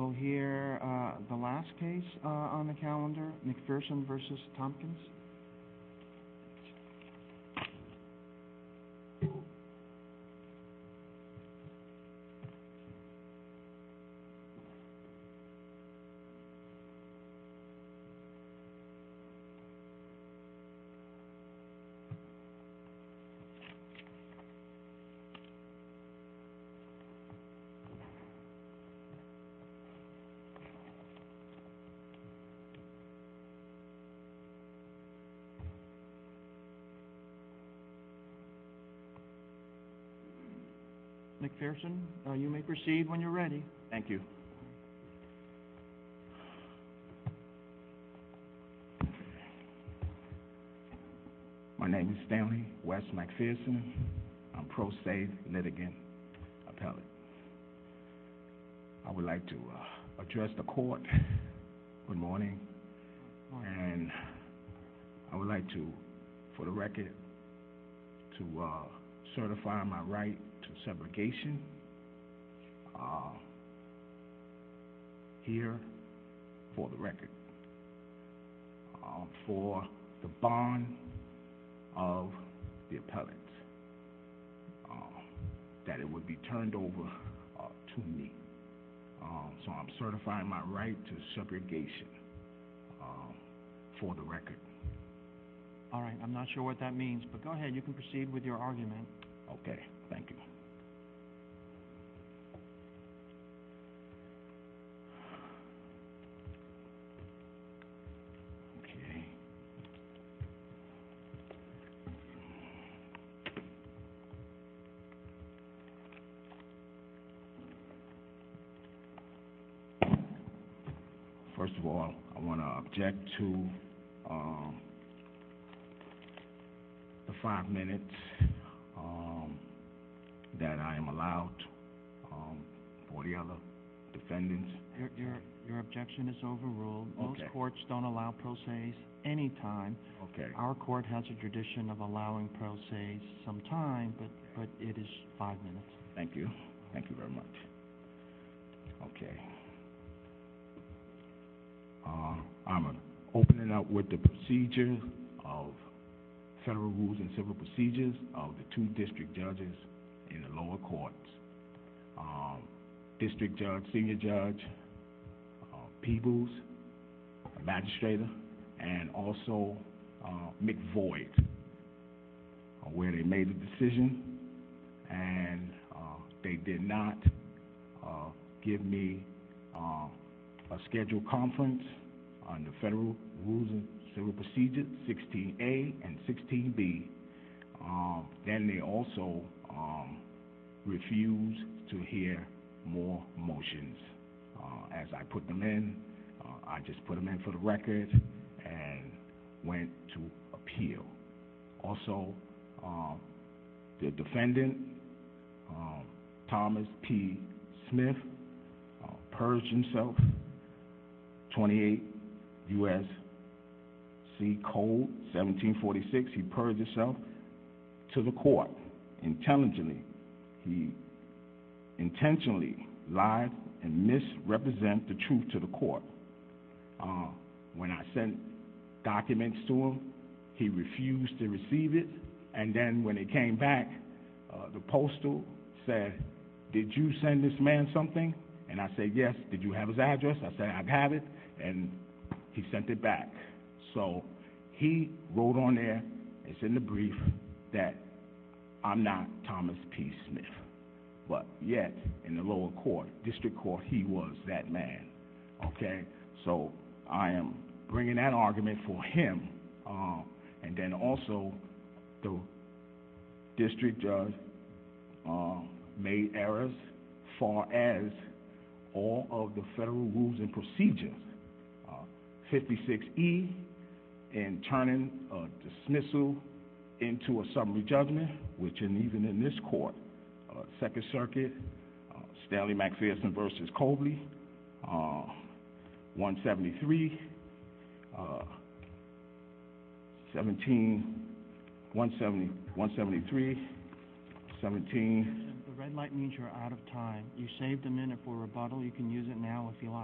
We'll hear the last case on the calendar, McPherson v. Tompkins. McPherson, you may proceed when you're ready. Thank you. My name is Stanley West McPherson. I'm a pro se litigant appellate. I would like to address the court. Good morning. And I would like to, for the record, to certify my right to segregation here for the record for the bond of the appellate that it would be turned over to me. So I'm certifying my right to segregation for the record. All right. I'm not sure what that means, but go ahead. You can proceed with your argument. Okay. Thank you. Thank you. Okay. First of all, I want to object to the five-minute period that I am allowed for the other defendants. Your objection is overruled. Most courts don't allow pro se's any time. Our court has a tradition of allowing pro se's some time, but it is five minutes. Thank you. Thank you very much. Okay. I'm opening up with the procedure of federal rules and civil procedures of the two district judges in the lower courts. District judge, senior judge, Peebles, the magistrator, and also McVoid, where they made a decision, and they did not give me a scheduled conference on the federal rules and civil procedures 16A and 16B. Then they also refused to hear more motions. As I put them in, I just put them in for the record and went to appeal. Also, the defendant, Thomas P. Smith, purged himself, 28 U.S.C. Code 1746. He purged himself to the court intelligently. He intentionally lied and misrepresented the truth to the court. When I sent documents to him, he refused to receive it. Then when they came back, the postal said, did you send this man something? I said, yes. Did you have his address? I said, I have it. He sent it back. He wrote on there, it's in the brief, that I'm not Thomas P. Smith. Yet, in the lower court, district court, he was that man. I am bringing that argument for him. Then also, the district judge made errors far as all of the federal rules and procedures. 56E, in turning a dismissal into a summary judgment, which even in this court, Second Circuit, Stanley McPherson v. Cobley, 173, 173, 173, 173, 173, 173, 173, 173, 173, 173, 173, 173, 173, 173, 173, 173, 173, 173, 173, 133, 173, 173, 173, 173, 173, 173, 173, 133, 175. So, how do you point to that? Okay. Look at 173. We would simply rest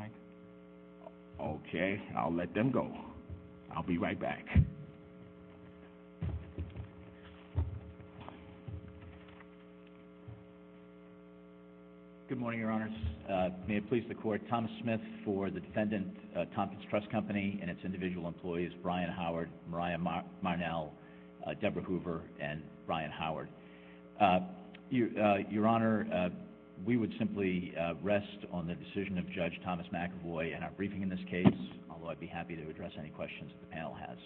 on the decision of Judge Thomas McAvoy in our briefing in this case, although I'd be happy to address any questions that the panel has.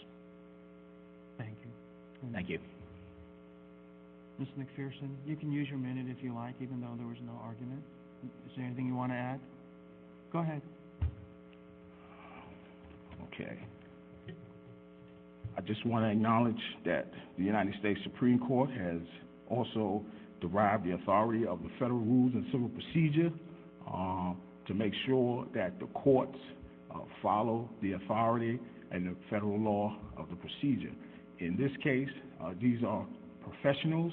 Thank you. Thank you. Mr. McPherson, you can use your minute if you like, even though there was no argument. Is there anything you want to add? Go ahead. Okay. I just want to acknowledge that the United States Supreme Court has also derived the authority of the federal rules and civil procedure to make sure that the courts follow the authority and the federal law of the procedure. In this case, these are professionals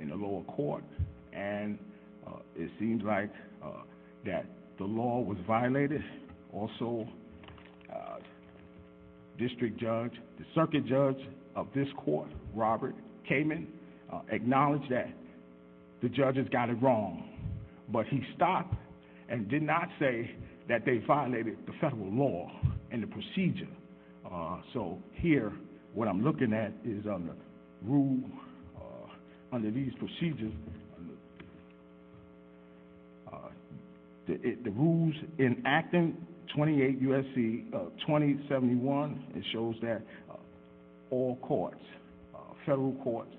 in the lower court, and it seems like that the law was violated. And also, District Judge, the circuit judge of this court, Robert Kamen, acknowledged that the judges got it wrong, but he stopped and did not say that they violated the federal law and the procedure. So, here, what I'm looking at is under rule, under these procedures, the rules enacting 28 U.S.C. 2071, it shows that all courts, federal courts,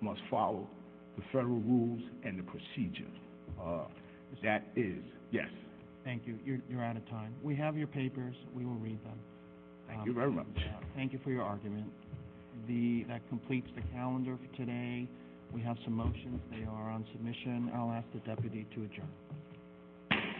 must follow the federal rules and the procedure. That is, yes. Thank you. You're out of time. We have your papers. We will read them. Thank you very much. Thank you for your argument. That completes the calendar for today. We have some motions. They are on submission. I'll ask the deputy to adjourn.